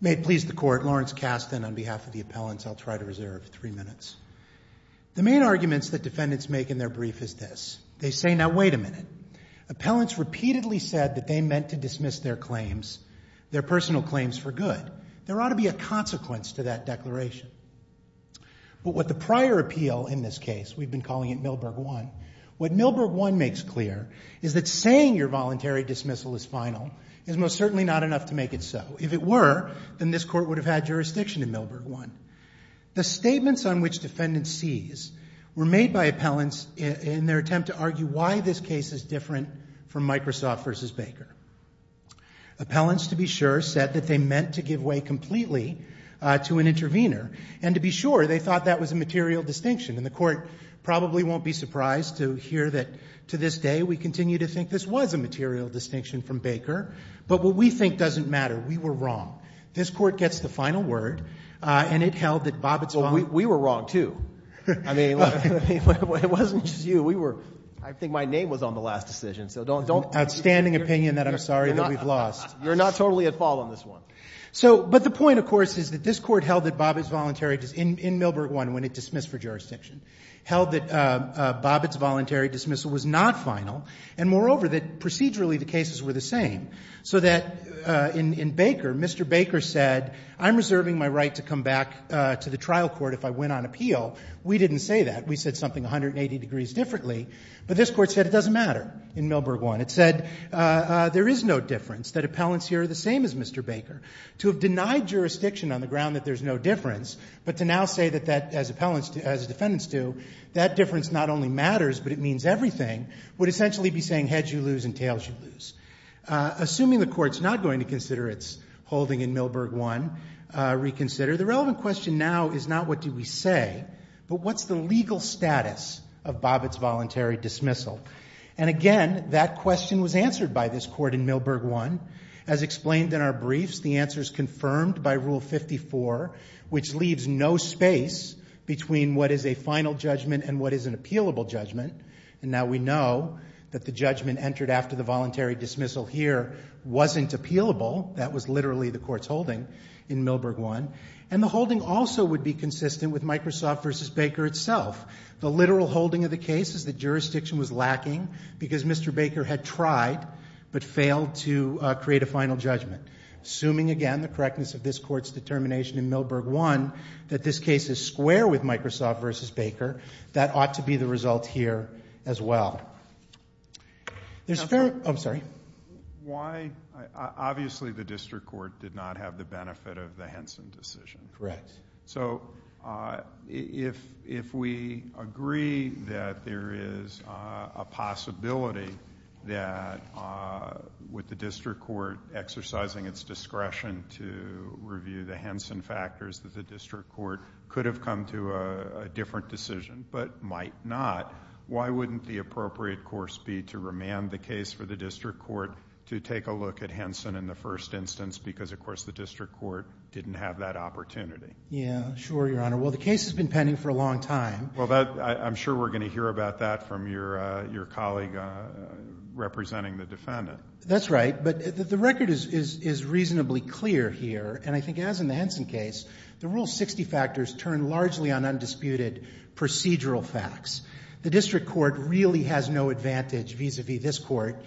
May it please the court, Lawrence Kasten on behalf of the appellants. I'll try to reserve three minutes. The main arguments that defendants make in their brief is this. They say, now wait a minute. Appellants repeatedly said that they meant to dismiss their claims, their personal claims for good. There ought to be a consequence to that declaration. But what the prior appeal in this case, we've been calling it Milberg 1, what Milberg 1 makes clear is that saying your voluntary dismissal is final is most certainly not enough to make it so. If it were, then this court would have had jurisdiction in Milberg 1. The statements on which defendants seize were made by appellants in their attempt to argue why this case is different from Microsoft v. Baker. Appellants, to be sure, said that they meant to give way completely to an intervener. And to be sure, they thought that was a material distinction. And the Court probably won't be surprised to hear that, to this day, we continue to think this was a material distinction from Baker. But what we think doesn't matter. We were wrong. This Court gets the final word, and it held that Bobbitt's voluntary ---- Roberts. Well, we were wrong, too. I mean, it wasn't just you. We were ---- I think my name was on the last decision. So don't ---- Outstanding opinion that I'm sorry that we've lost. You're not totally at fault on this one. So, but the point, of course, is that this Court held that Bobbitt's voluntary ---- in Milberg 1, when it dismissed for jurisdiction, held that Bobbitt's voluntary dismissal was not final, and, moreover, that procedurally the cases were the same. So that in Baker, Mr. Baker said, I'm reserving my right to come back to the trial court if I win on appeal. We didn't say that. We said something 180 degrees differently. But this Court said it doesn't matter in Milberg 1. It said there is no difference, that appellants here are the same as Mr. Baker. To have denied jurisdiction on the ground that there's no difference, but to now say that that, as defendants do, that difference not only matters, but it means everything, would essentially be saying heads you lose and tails you lose. Assuming the Court's not going to consider its holding in Milberg 1, reconsider, the relevant question now is not what do we say, but what's the legal status of Bobbitt's voluntary dismissal? And, again, that question was answered by this Court in Milberg 1. As explained in our briefs, the answer is confirmed by Rule 54, which leaves no space between what is a final judgment and what is an appealable judgment. And now we know that the judgment entered after the voluntary dismissal here wasn't appealable. That was literally the Court's holding in Milberg 1. And the holding also would be consistent with Microsoft v. Baker itself. The literal holding of the case is that jurisdiction was lacking because Mr. Baker had tried but failed to create a final judgment. Assuming, again, the correctness of this Court's determination in Milberg 1, that this case is square with Microsoft v. Baker, that ought to be the result here as well. There's a fair—oh, I'm sorry. Why—obviously the district court did not have the benefit of the Henson decision. Correct. So if we agree that there is a possibility that with the district court exercising its discretion to review the Henson factors that the district court could have come to a different decision but might not, why wouldn't the appropriate course be to remand the case for the district court to take a look at Henson in the first instance because, of course, the district court didn't have that opportunity? Yeah, sure, Your Honor. Well, the case has been pending for a long time. Well, I'm sure we're going to hear about that from your colleague representing the defendant. That's right. But the record is reasonably clear here. And I think as in the Henson case, the Rule 60 factors turn largely on undisputed procedural facts. The district court really has no advantage vis-à-vis this Court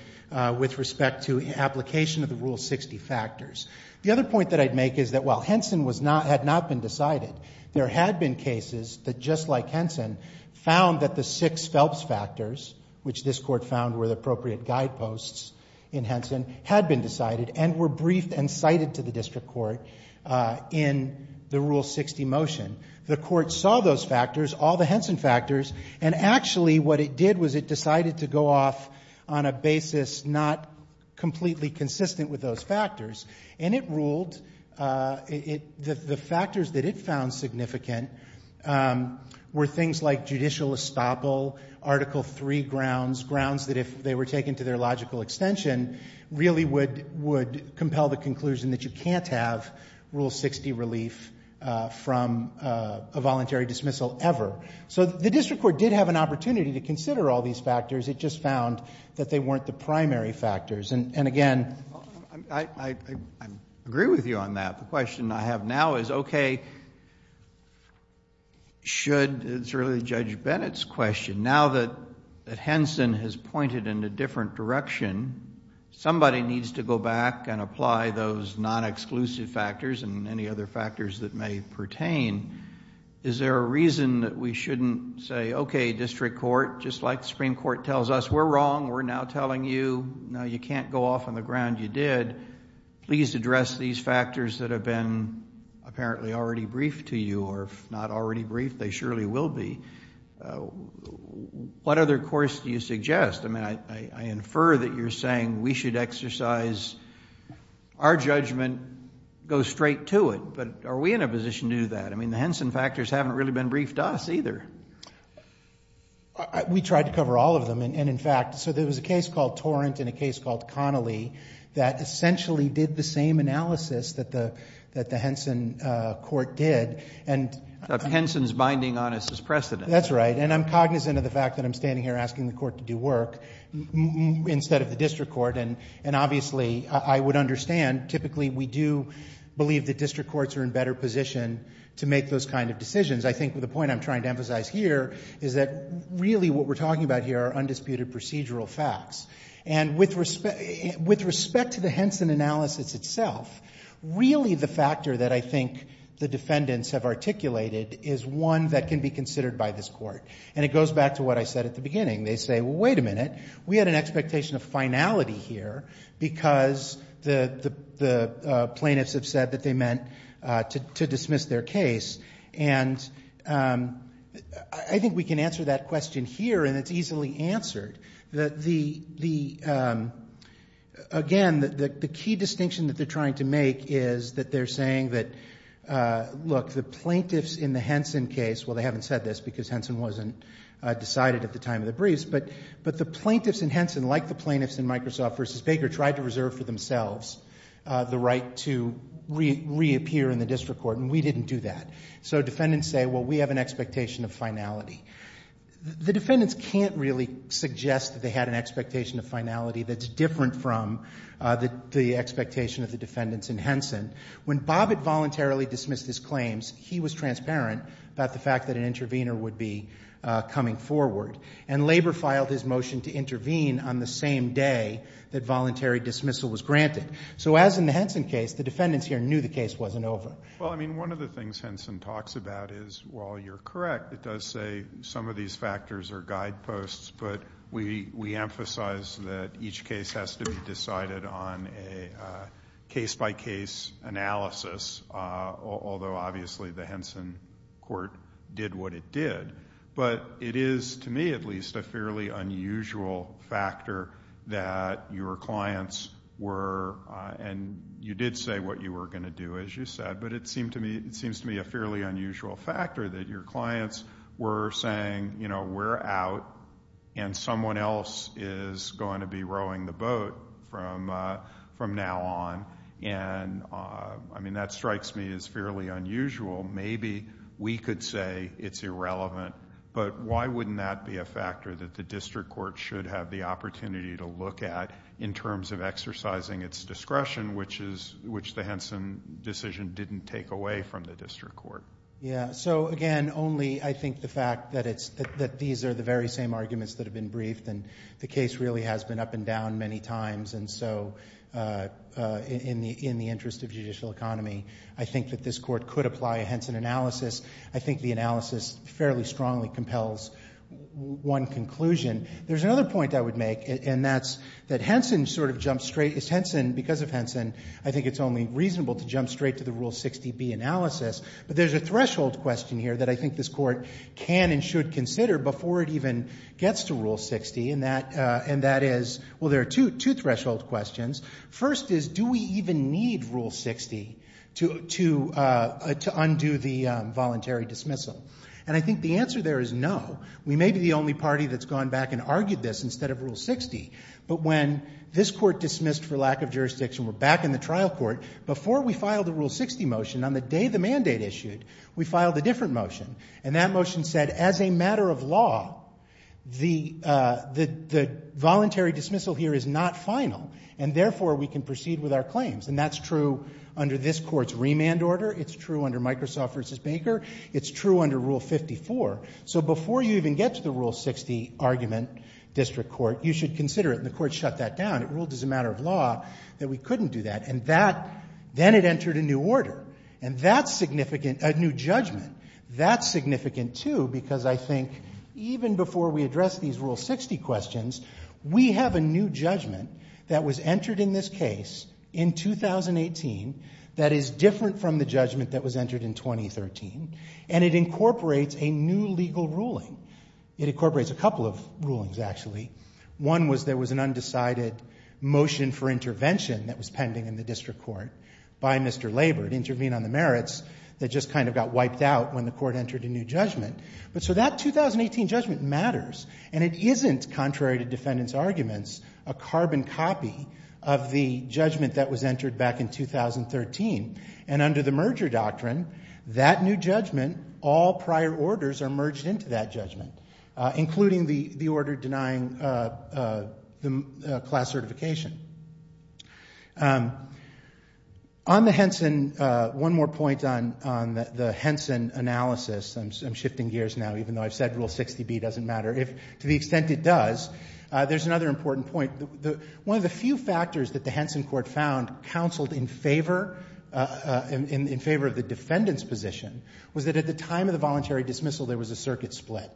with respect to application of the Rule 60 factors. The other point that I'd make is that while Henson had not been decided, there had been cases that, just like Henson, found that the six Phelps factors, which this Court found were the appropriate guideposts in Henson, had been decided and were briefed and cited to the district court in the Rule 60 motion. The Court saw those factors, all the Henson factors, and actually what it did was it was not completely consistent with those factors. And it ruled the factors that it found significant were things like judicial estoppel, Article III grounds, grounds that if they were taken to their logical extension really would compel the conclusion that you can't have Rule 60 relief from a voluntary dismissal ever. So the district court did have an opportunity to consider all these factors. It just found that they weren't the primary factors. And again... I agree with you on that. The question I have now is, okay, should... it's really Judge Bennett's question. Now that Henson has pointed in a different direction, somebody needs to go back and apply those non-exclusive factors and any other factors that may pertain. Is there a reason that we shouldn't say, okay, district court, just like the Supreme Court tells us, we're wrong, we're now telling you, no, you can't go off on the ground, you did. Please address these factors that have been apparently already briefed to you or if not already briefed, they surely will be. What other course do you suggest? I mean, I infer that you're saying we should exercise our judgment, go straight to it. But are we in a position to do that? I mean, the Henson factors haven't really been briefed to us either. We tried to cover all of them. And in fact, so there was a case called Torrent and a case called Connolly that essentially did the same analysis that the Henson court did. Henson's binding on us is precedent. That's right. And I'm cognizant of the fact that I'm standing here asking the court to do work instead of the district court. And obviously, I would understand, typically we do believe that district courts are in better position to make those kind of decisions. I think the point I'm trying to emphasize here is that really what we're talking about here are undisputed procedural facts. And with respect to the Henson analysis itself, really the factor that I think the defendants have articulated is one that can be considered by this court. And it goes back to what I said at the beginning. They say, well, wait a minute. We had an expectation of finality here because the plaintiffs have said that they meant to dismiss their case. And I think we can answer that question here, and it's easily answered. Again, the key distinction that they're trying to make is that they're saying that, look, the plaintiffs in the Henson case, well, they haven't said this because Henson wasn't decided at the time of the briefs, but the plaintiffs in Henson, like the plaintiffs in Microsoft v. Baker, tried to reserve for themselves the right to reappear in the district court, and we didn't do that. So defendants say, well, we have an expectation of finality. The defendants can't really suggest that they had an expectation of finality that's different from the expectation of the defendants in Henson. When Bobbitt voluntarily dismissed his claims, he was transparent about the fact that an intervener would be coming forward. And Labor filed his motion to intervene on the same day that voluntary dismissal was granted. So as in the Henson case, the defendants here knew the case wasn't over. Well, I mean, one of the things Henson talks about is, while you're correct, it does say some of these factors are guideposts, but we emphasize that each case has to be decided on a case-by-case analysis, although obviously the Henson court did what it did. But it is, to me at least, a fairly unusual factor that your clients were saying, you know, we're out and someone else is going to be rowing the boat from now on. And, I mean, that strikes me as fairly unusual. Maybe we could say it's irrelevant, but why wouldn't that be a factor that the district court should have the opportunity to look at in terms of discretion, which the Henson decision didn't take away from the district court? Yeah. So, again, only I think the fact that these are the very same arguments that have been briefed, and the case really has been up and down many times. And so in the interest of judicial economy, I think that this court could apply a Henson analysis. I think the analysis fairly strongly compels one conclusion. There's another point I would make, and that's that Henson sort of jumps straight, because of Henson, I think it's only reasonable to jump straight to the Rule 60B analysis. But there's a threshold question here that I think this court can and should consider before it even gets to Rule 60, and that is, well, there are two threshold questions. First is, do we even need Rule 60 to undo the voluntary dismissal? And I think the answer there is no. We may be the only party that's gone back and argued this instead of Rule 60. But when this court dismissed for lack of jurisdiction, we're back in the trial court. Before we filed the Rule 60 motion, on the day the mandate issued, we filed a different motion. And that motion said, as a matter of law, the voluntary dismissal here is not final, and therefore we can proceed with our claims. And that's true under this court's remand order. It's true under Microsoft v. Baker. It's true under Rule 54. So before you even get to the Rule 60 argument, district court, you should consider it. And the court shut that down. It ruled as a matter of law that we couldn't do that. And that, then it entered a new order. And that's significant, a new judgment. That's significant, too, because I think even before we addressed these Rule 60 questions, we have a new judgment that was entered in this case in 2018 that is different from the judgment that was entered in 2013. And it incorporates a new legal ruling. It incorporates a couple of rulings, actually. One was there was an undecided motion for intervention that was pending in the district court by Mr. Labor to intervene on the merits that just kind of got wiped out when the court entered a new judgment. But so that 2018 judgment matters. And it isn't, contrary to defendants' arguments, a carbon copy of the judgment that was entered back in 2013. And under the merger doctrine, that new judgment, all prior orders are merged into that judgment, including the order denying the class certification. On the Henson, one more point on the Henson analysis. I'm shifting gears now, even though I've said Rule 60b doesn't matter. To the extent it does, there's another important point. One of the few factors that the Henson court found counseled in favor of the defendant's position was that at the time of the voluntary dismissal, there was a circuit split.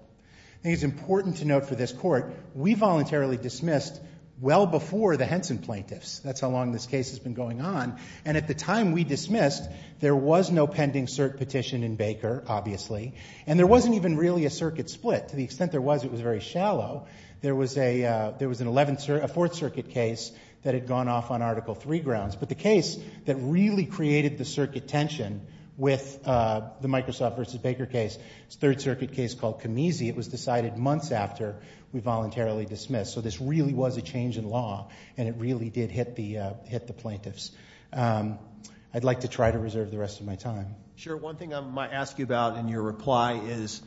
I think it's important to note for this court, we voluntarily dismissed well before the Henson plaintiffs. That's how long this case has been going on. And at the time we dismissed, there was no pending cert petition in Baker, obviously. And there wasn't even really a circuit split. To the extent there was, it was very shallow. There was a fourth circuit case that had gone off on Article III grounds. But the case that really created the circuit tension with the Microsoft versus Baker case, it's a third circuit case called Camisi. It was decided months after we voluntarily dismissed. So this really was a change in law, and it really did hit the plaintiffs. I'd like to try to reserve the rest of my time. Sure. One thing I might ask you about in your reply is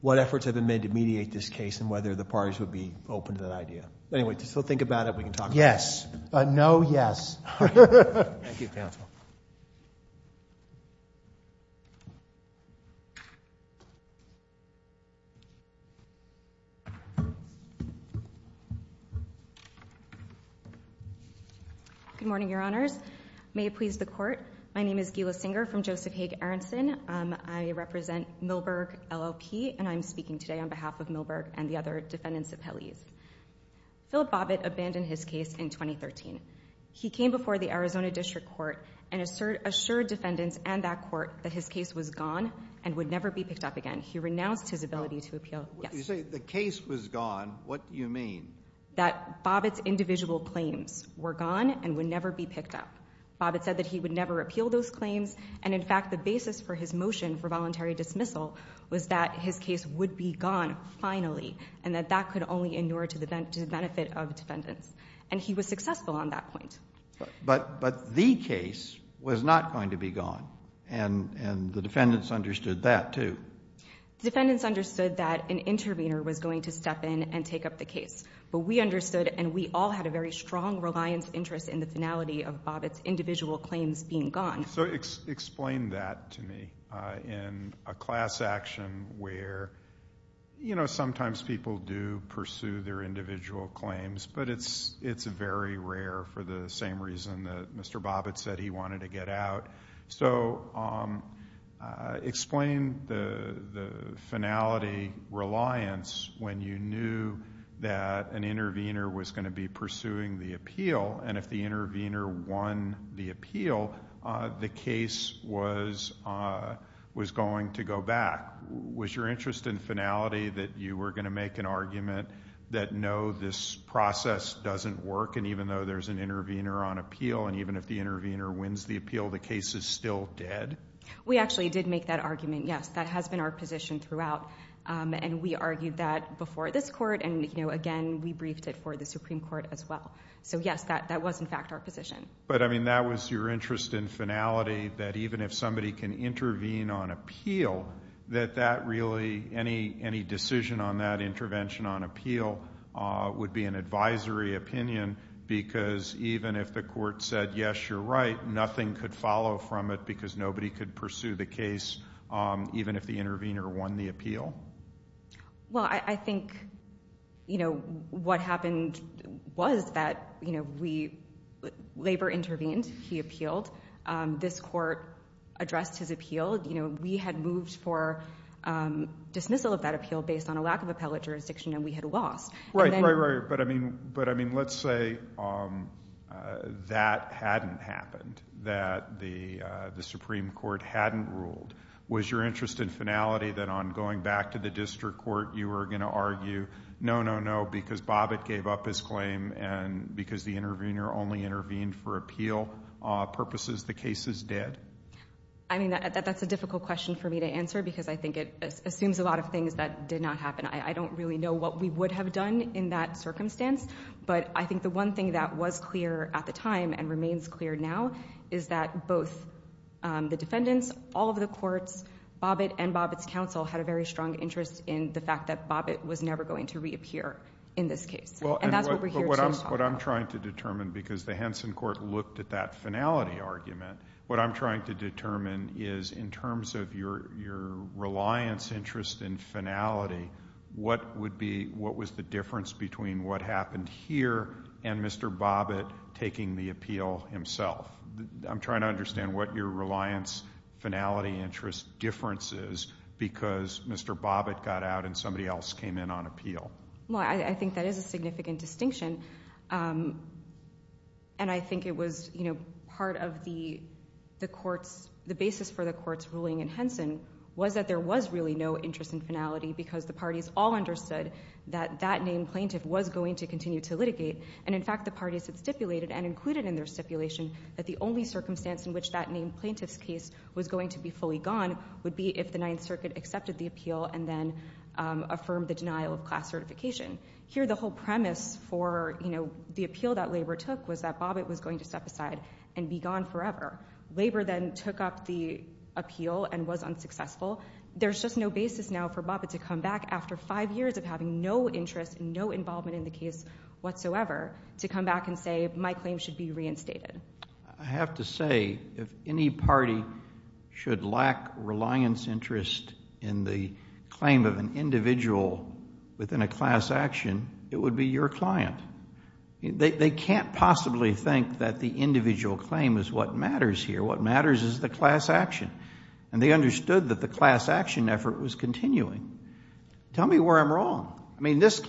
what efforts have been made to mediate this case and whether the parties would be open to that idea. Anyway, still think about it. We can talk about it. Yes. No, yes. Thank you, counsel. Good morning, Your Honors. May it please the Court. My name is Gila Singer from Joseph Hague Aronson. I represent Milberg LLP, and I'm speaking today on behalf of Milberg and the other defendants appellees. Philip Bobbitt abandoned his case in 2013. He came before the Arizona District Court and assured defendants and that court that his case was gone and would never be picked up again. He renounced his ability to appeal. You say the case was gone. What do you mean? That Bobbitt's individual claims were gone and would never be picked up. Bobbitt said that he would never appeal those claims, and in fact the basis for his motion for voluntary dismissal was that his case would be gone finally and that that could only endure to the benefit of defendants. And he was successful on that point. But the case was not going to be gone, and the defendants understood that too. The defendants understood that an intervener was going to step in and take up the case, but we understood, and we all had a very strong reliance interest in the finality of Bobbitt's individual claims being gone. So explain that to me. In a class action where, you know, sometimes people do pursue their individual claims, but it's very rare for the same reason that Mr. Bobbitt said he wanted to get out. So explain the finality reliance when you knew that an intervener was going to be pursuing the appeal, and if the intervener won the appeal, the case was going to go back. Was your interest in finality that you were going to make an argument that no, this process doesn't work, and even though there's an intervener on appeal and even if the intervener wins the appeal, the case is still dead? We actually did make that argument, yes. That has been our position throughout, and we argued that before this court, and, you know, again, we briefed it for the Supreme Court as well. So, yes, that was in fact our position. But, I mean, that was your interest in finality, that even if somebody can intervene on appeal, that that really, any decision on that intervention on appeal would be an advisory opinion because even if the court said, yes, you're right, nothing could follow from it because nobody could pursue the case even if the intervener won the appeal? Well, I think, you know, what happened was that, you know, Labor intervened, he appealed, this court addressed his appeal. You know, we had moved for dismissal of that appeal based on a lack of appellate jurisdiction, and we had lost. Right, right, right. But, I mean, let's say that hadn't happened, that the Supreme Court hadn't ruled. Was your interest in finality that on going back to the district court you were going to argue, no, no, no, because Bobbitt gave up his claim and because the intervener only intervened for appeal purposes, the case is dead? I mean, that's a difficult question for me to answer because I think it assumes a lot of things that did not happen. I don't really know what we would have done in that circumstance, but I think the one thing that was clear at the time and remains clear now is that both the defendants, all of the courts, Bobbitt and Bobbitt's counsel had a very strong interest in the fact that Bobbitt was never going to reappear in this case. And that's what we're here to talk about. But what I'm trying to determine, because the Henson court looked at that finality argument, what I'm trying to determine is, in terms of your reliance interest in finality, what was the difference between what happened here and Mr. Bobbitt taking the appeal himself? I'm trying to understand what your reliance finality interest difference is because Mr. Bobbitt got out and somebody else came in on appeal. Well, I think that is a significant distinction, and I think it was part of the court's, the basis for the court's ruling in Henson was that there was really no interest in finality because the parties all understood that that named plaintiff was going to continue to litigate. And in fact, the parties had stipulated and included in their stipulation that the only circumstance in which that named plaintiff's case was going to be fully gone would be if the Ninth Circuit accepted the appeal and then affirmed the denial of class certification. Here, the whole premise for, you know, the appeal that Labor took was that Bobbitt was going to step aside and be gone forever. Labor then took up the appeal and was unsuccessful. There's just no basis now for Bobbitt to come back after five years of having no interest and no involvement in the case whatsoever to come back and say, my claim should be reinstated. I have to say, if any party should lack reliance interest in the claim of an individual within a class action, it would be your client. They can't possibly think that the individual claim is what matters here. What matters is the class action. And they understood that the class action effort was continuing. Tell me where I'm wrong. I mean, this...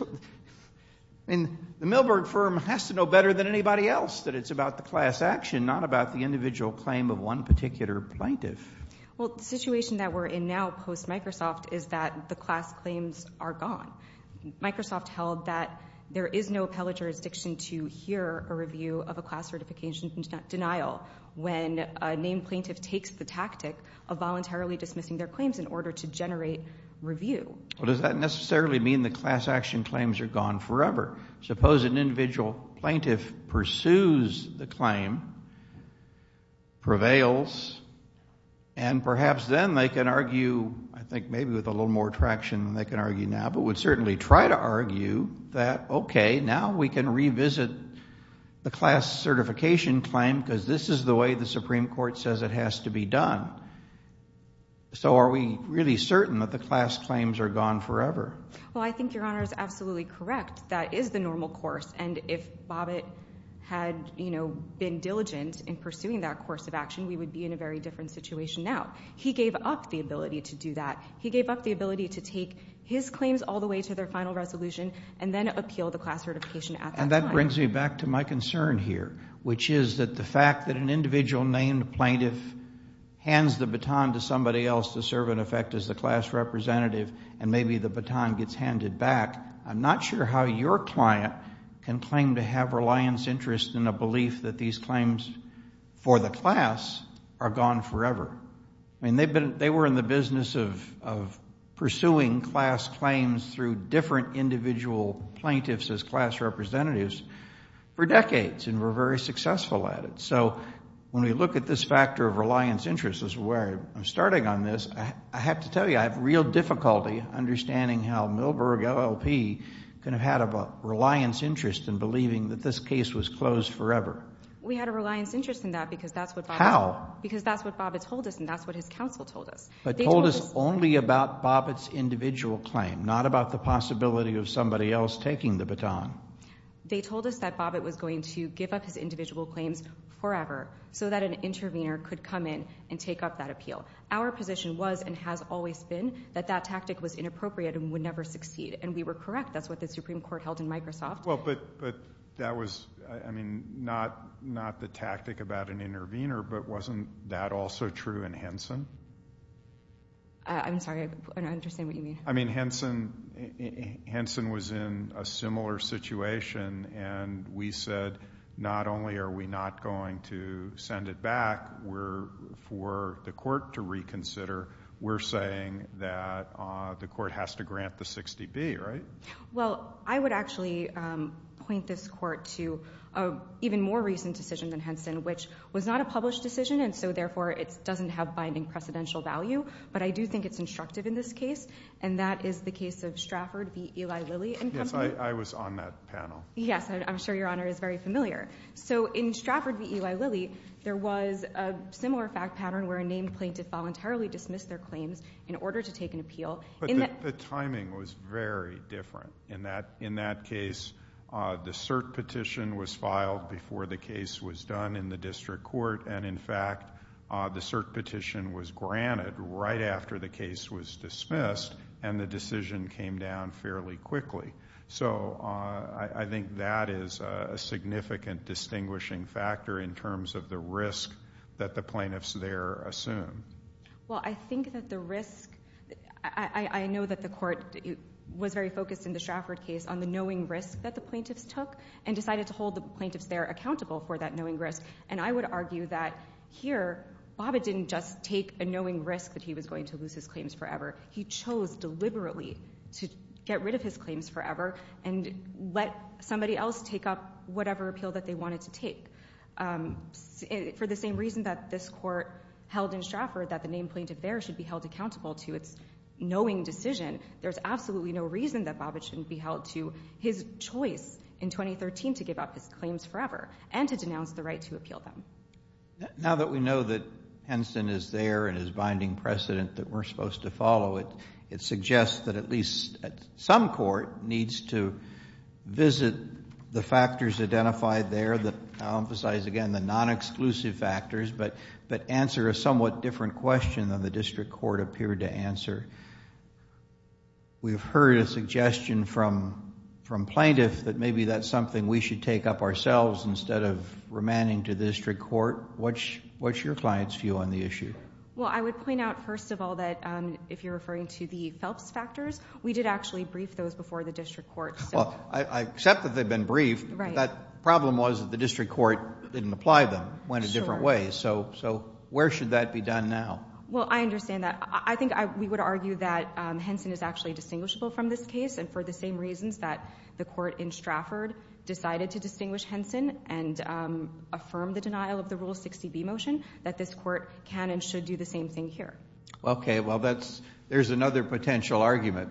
I mean, the Milberg firm has to know better than anybody else that it's about the class action, not about the individual claim of one particular plaintiff. Well, the situation that we're in now post-Microsoft is that the class claims are gone. Microsoft held that there is no appellate jurisdiction to hear a review of a class certification denial when a named plaintiff takes the tactic of voluntarily dismissing their claims in order to generate review. Well, does that necessarily mean the class action claims are gone forever? Suppose an individual plaintiff pursues the claim, prevails, and perhaps then they can argue, I think maybe with a little more traction than they can argue now, but would certainly try to argue that, okay, now we can revisit the class certification claim because this is the way the Supreme Court says it has to be done. So are we really certain that the class claims are gone forever? Well, I think Your Honor is absolutely correct. That is the normal course. And if Bobbitt had been diligent in pursuing that course of action, we would be in a very different situation now. He gave up the ability to do that. He gave up the ability to take his claims all the way to their final resolution and then appeal the class certification at that time. And that brings me back to my concern here, which is that the fact that an individual named plaintiff hands the baton to somebody else to serve, in effect, as the class representative and maybe the baton gets handed back, I'm not sure how your client can claim to have reliance interest in a belief that these claims for the class are gone forever. I mean, they were in the business of pursuing class claims through different individual plaintiffs as class representatives for decades and were very successful at it. So when we look at this factor of reliance interest, this is where I'm starting on this, I have to tell you I have real difficulty understanding how Milberg LLP could have had a reliance interest in believing that this case was closed forever. We had a reliance interest in that because that's what Bobbitt told us. How? Because that's what Bobbitt told us and that's what his counsel told us. But told us only about Bobbitt's individual claim, not about the possibility of somebody else taking the baton. They told us that Bobbitt was going to give up his individual claims forever so that an intervener could come in and take up that appeal. Our position was and has always been that that tactic was inappropriate and would never succeed. And we were correct. That's what the Supreme Court held in Microsoft. Well, but that was, I mean, not the tactic about an intervener, but wasn't that also true in Henson? I'm sorry, I don't understand what you mean. I mean, Henson was in a similar situation and we said not only are we not going to send it back for the court to reconsider, we're saying that the court has to grant the 60B, right? Well, I would actually point this court to an even more recent decision than Henson, which was not a published decision and so therefore it doesn't have binding precedential value, but I do think it's instructive in this case and that is the case of Stratford v. Eli Lilly and Company. Yes, I was on that panel. Yes, I'm sure Your Honor is very familiar. So in Stratford v. Eli Lilly, there was a similar fact pattern where a named plaintiff voluntarily dismissed their claims in order to take an appeal. But the timing was very different. In that case, the cert petition was filed before the case was done in the district court and, in fact, the cert petition was granted right after the case was dismissed and the decision came down fairly quickly. So I think that is a significant distinguishing factor in terms of the risk that the plaintiffs there assume. Well, I think that the risk... I know that the court was very focused in the Stratford case on the knowing risk that the plaintiffs took and decided to hold the plaintiffs there accountable for that knowing risk and I would argue that here, Bobbitt didn't just take a knowing risk that he was going to lose his claims forever. He chose deliberately to get rid of his claims forever and let somebody else take up whatever appeal that they wanted to take. For the same reason that this court held in Stratford that the named plaintiff there should be held accountable to its knowing decision, there's absolutely no reason that Bobbitt shouldn't be held to his choice in 2013 to give up his claims forever and to denounce the right to appeal them. Now that we know that Henson is there and his binding precedent that we're supposed to follow, it suggests that at least some court needs to visit the factors identified there and emphasize again the non-exclusive factors but answer a somewhat different question than the district court appeared to answer. We've heard a suggestion from plaintiffs that maybe that's something we should take up ourselves instead of remanding to the district court. What's your client's view on the issue? Well, I would point out first of all that if you're referring to the Phelps factors, we did actually brief those before the district court. I accept that they've been briefed. But the problem was that the district court didn't apply them, went a different way, so where should that be done now? Well, I understand that. I think we would argue that Henson is actually distinguishable from this case and for the same reasons that the court in Stratford decided to distinguish Henson and affirm the denial of the Rule 60B motion, that this court can and should do the same thing here. Okay, well, there's another potential argument.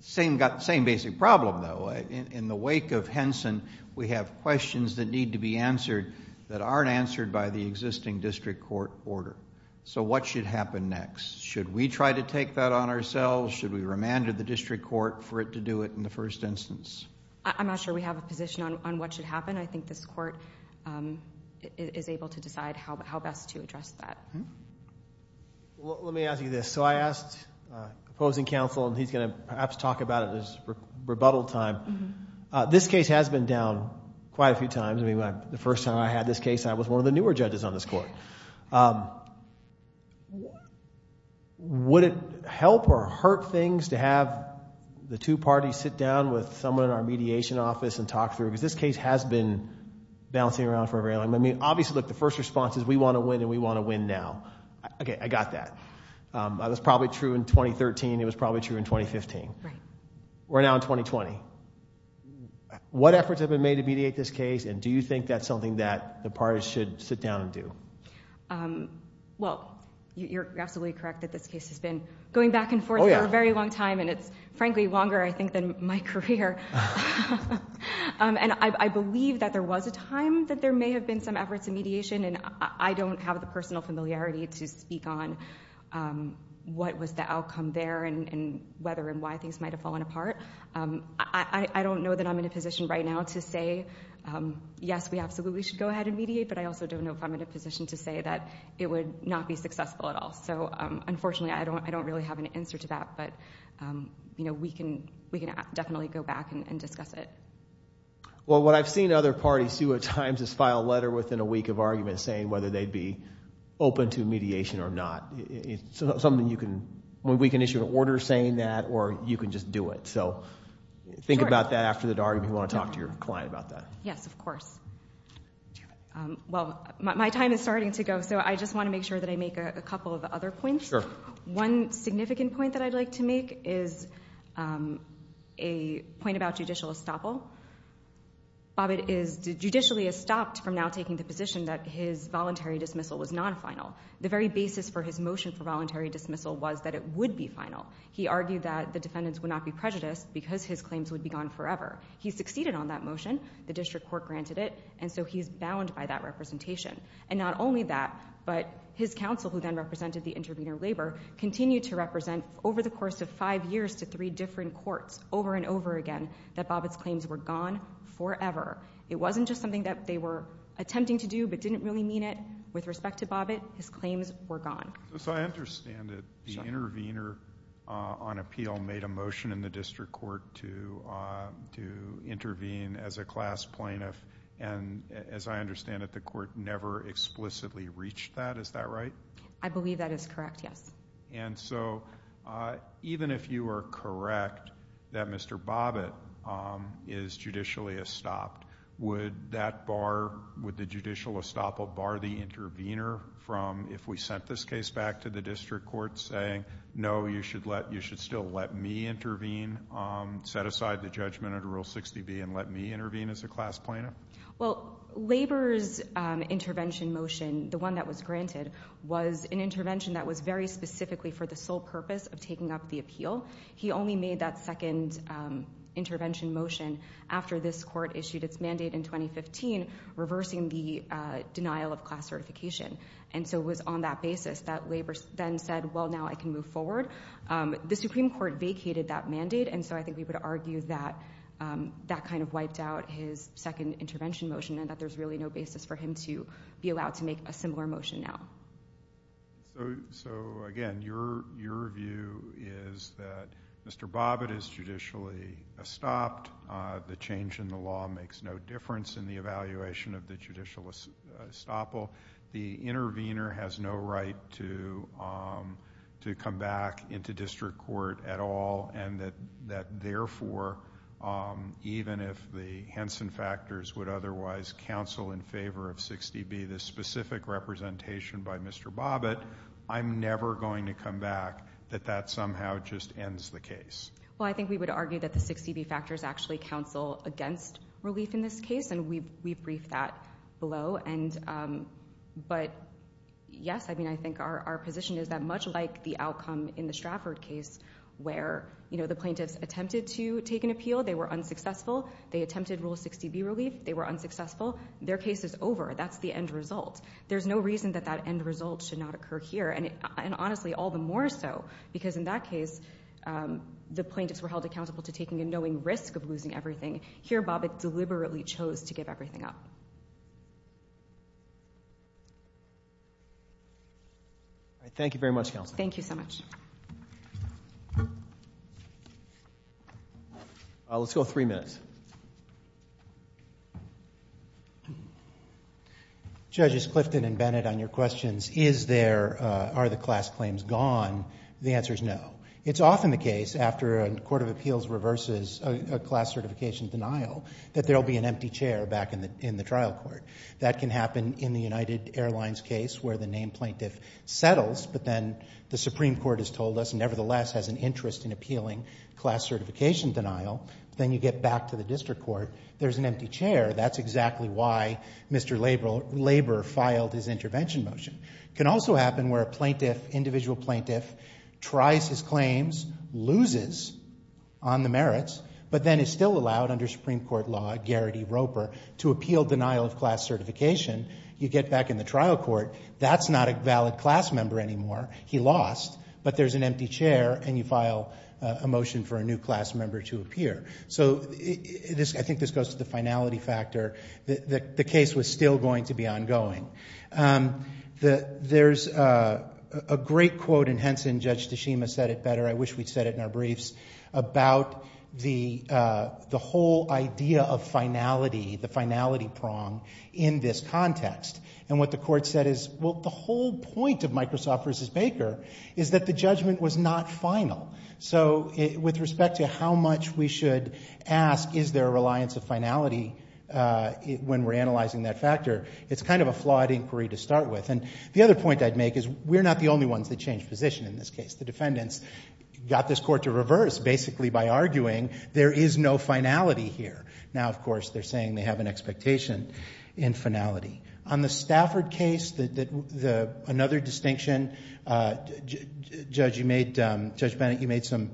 Same basic problem, though. In the wake of Henson, we have questions that need to be answered that aren't answered by the existing district court order. So what should happen next? Should we try to take that on ourselves? Should we remand to the district court for it to do it in the first instance? I'm not sure we have a position on what should happen. I think this court is able to decide how best to address that. Let me ask you this. So I asked the opposing counsel, and he's going to perhaps talk about it in his rebuttal time. This case has been down quite a few times. I mean, the first time I had this case, I was one of the newer judges on this court. Would it help or hurt things to have the two parties sit down with someone in our mediation office and talk through it? Because this case has been bouncing around for a very long time. I mean, obviously, look, the first response is we want to win, and we want to win now. Okay, I got that. That was probably true in 2013, and it was probably true in 2015. Right. We're now in 2020. What efforts have been made to mediate this case, and do you think that's something that the parties should sit down and do? Well, you're absolutely correct that this case has been going back and forth for a very long time, and it's, frankly, longer, I think, than my career. And I believe that there was a time that there may have been some efforts in mediation, and I don't have the personal familiarity to speak on what was the outcome there and whether and why things might have fallen apart. I don't know that I'm in a position right now to say, yes, we absolutely should go ahead and mediate, but I also don't know if I'm in a position to say that it would not be successful at all. So, unfortunately, I don't really have an answer to that, but we can definitely go back and discuss it. Well, what I've seen other parties do at times is file a letter within a week of arguments saying whether they'd be open to mediation or not. It's something you can – we can issue an order saying that, or you can just do it. So think about that after the argument. You want to talk to your client about that. Yes, of course. Well, my time is starting to go, so I just want to make sure that I make a couple of other points. Sure. One significant point that I'd like to make is a point about judicial estoppel. Bobbitt is judicially estopped from now taking the position that his voluntary dismissal was not final. The very basis for his motion for voluntary dismissal was that it would be final. He argued that the defendants would not be prejudiced because his claims would be gone forever. He succeeded on that motion. The district court granted it, and so he's bound by that representation. And not only that, but his counsel, who then represented the intervener, Labor, continued to represent over the course of five years to three different courts over and over again that Bobbitt's claims were gone forever. It wasn't just something that they were attempting to do but didn't really mean it with respect to Bobbitt. His claims were gone. So I understand that the intervener on appeal made a motion in the district court to intervene as a class plaintiff, and as I understand it, the court never explicitly reached that. Is that right? I believe that is correct, yes. And so even if you are correct that Mr. Bobbitt is judicially estopped, would that bar, would the judicial estoppel bar the intervener from if we sent this case back to the district court saying, no, you should still let me intervene, set aside the judgment under Rule 60B and let me intervene as a class plaintiff? Well, Labor's intervention motion, the one that was granted, was an intervention that was very specifically for the sole purpose of taking up the appeal. He only made that second intervention motion after this court issued its mandate in 2015 reversing the denial of class certification. And so it was on that basis that Labor then said, well, now I can move forward. The Supreme Court vacated that mandate and so I think we would argue that that kind of wiped out his second intervention motion and that there's really no basis for him to be allowed to make a similar motion now. So, again, your view is that Mr. Bobbitt is judicially estopped. The change in the law makes no difference in the evaluation of the judicial estoppel. The intervener has no right to come back into district court at all and that, therefore, even if the Henson factors would otherwise counsel in favor of 60B, this specific representation by Mr. Bobbitt, I'm never going to come back that that somehow just ends the case. Well, I think we would argue that the 60B factors actually counsel against relief in this case and we briefed that below. But, yes, I mean, I think our position is that much like the outcome in the Stratford case where, you know, the plaintiffs attempted to take an appeal, they were unsuccessful, they attempted Rule 60B relief, they were unsuccessful, their case is over. That's the end result. There's no reason that that end result should not occur here and, honestly, all the more so because in that case, the plaintiffs were held accountable to taking a knowing risk of losing everything. Here, Bobbitt deliberately chose to give everything up. Thank you very much, Counsel. Thank you so much. Let's go three minutes. Judges Clifton and Bennett, on your questions, is there, are the class claims gone? The answer is no. It's often the case after a court of appeals reverses a class certification denial that there will be an empty chair back in the trial court. That can happen in the United Airlines case where the named plaintiff settles but then the Supreme Court has told us nevertheless has an interest in appealing class certification denial. Then you get back to the district court, there's an empty chair. That's exactly why Mr. Labor filed his intervention motion. It can also happen where a plaintiff, individual plaintiff, tries his claims, loses on the merits, but then is still allowed under Supreme Court law, Garrity-Roper, to appeal denial of class certification. You get back in the trial court, that's not a valid class member anymore. He lost, but there's an empty chair and you file a motion for a new class member to appear. So I think this goes to the finality factor. The case was still going to be ongoing. There's a great quote in Henson, Judge Tashima said it better, I wish we'd said it in our briefs, about the whole idea of finality, the finality prong in this context. And what the court said is, well, the whole point of Microsoft v. Baker is that the judgment was not final. So with respect to how much we should ask, is there a reliance of finality when we're analyzing that factor, it's kind of a flawed inquiry to start with. And the other point I'd make is, we're not the only ones that changed position in this case. The defendants got this court to reverse, basically, by arguing there is no finality here. Now, of course, they're saying they have an expectation in finality. On the Stafford case, another distinction, Judge Bennett, you made some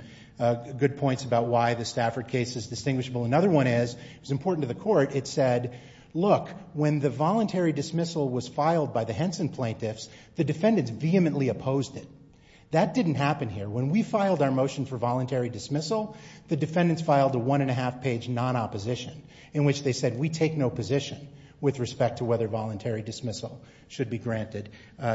good points about why the Stafford case is distinguishable. Another one is, it was important to the court, it said, look, when the voluntary dismissal was filed by the Henson plaintiffs, the defendants vehemently opposed it. That didn't happen here. When we filed our motion for voluntary dismissal, the defendants filed a one-and-a-half-page non-opposition in which they said we take no position with respect to whether voluntary dismissal should be granted.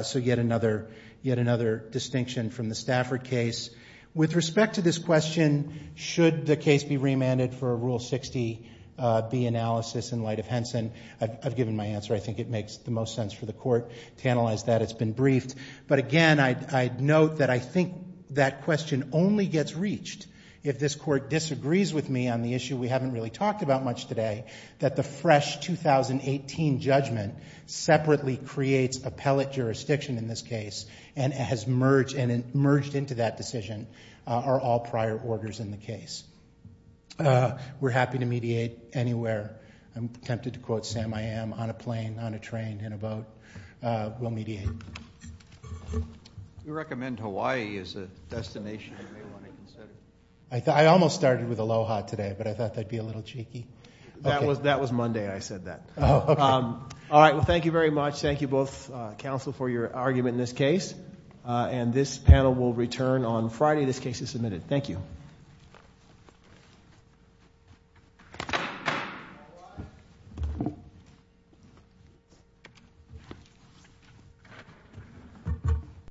So yet another distinction from the Stafford case. With respect to this question, should the case be remanded for a Rule 60B analysis in light of Henson, I've given my answer. I think it makes the most sense for the court to analyze that. It's been briefed. But again, I'd note that I think that question only gets reached if this court disagrees with me on the issue we haven't really talked about much today, that the fresh 2018 judgment separately creates appellate jurisdiction in this case and has merged into that decision are all prior orders in the case. We're happy to mediate anywhere. I'm tempted to quote Sam I.M., on a plane, on a train, in a boat. We'll mediate. We recommend Hawaii as a destination you may want to consider. I almost started with Aloha today, but I thought that'd be a little cheeky. That was Monday I said that. All right. Well, thank you very much. Thank you both, counsel, for your argument in this case. And this panel will return on Friday this case is submitted. Thank you.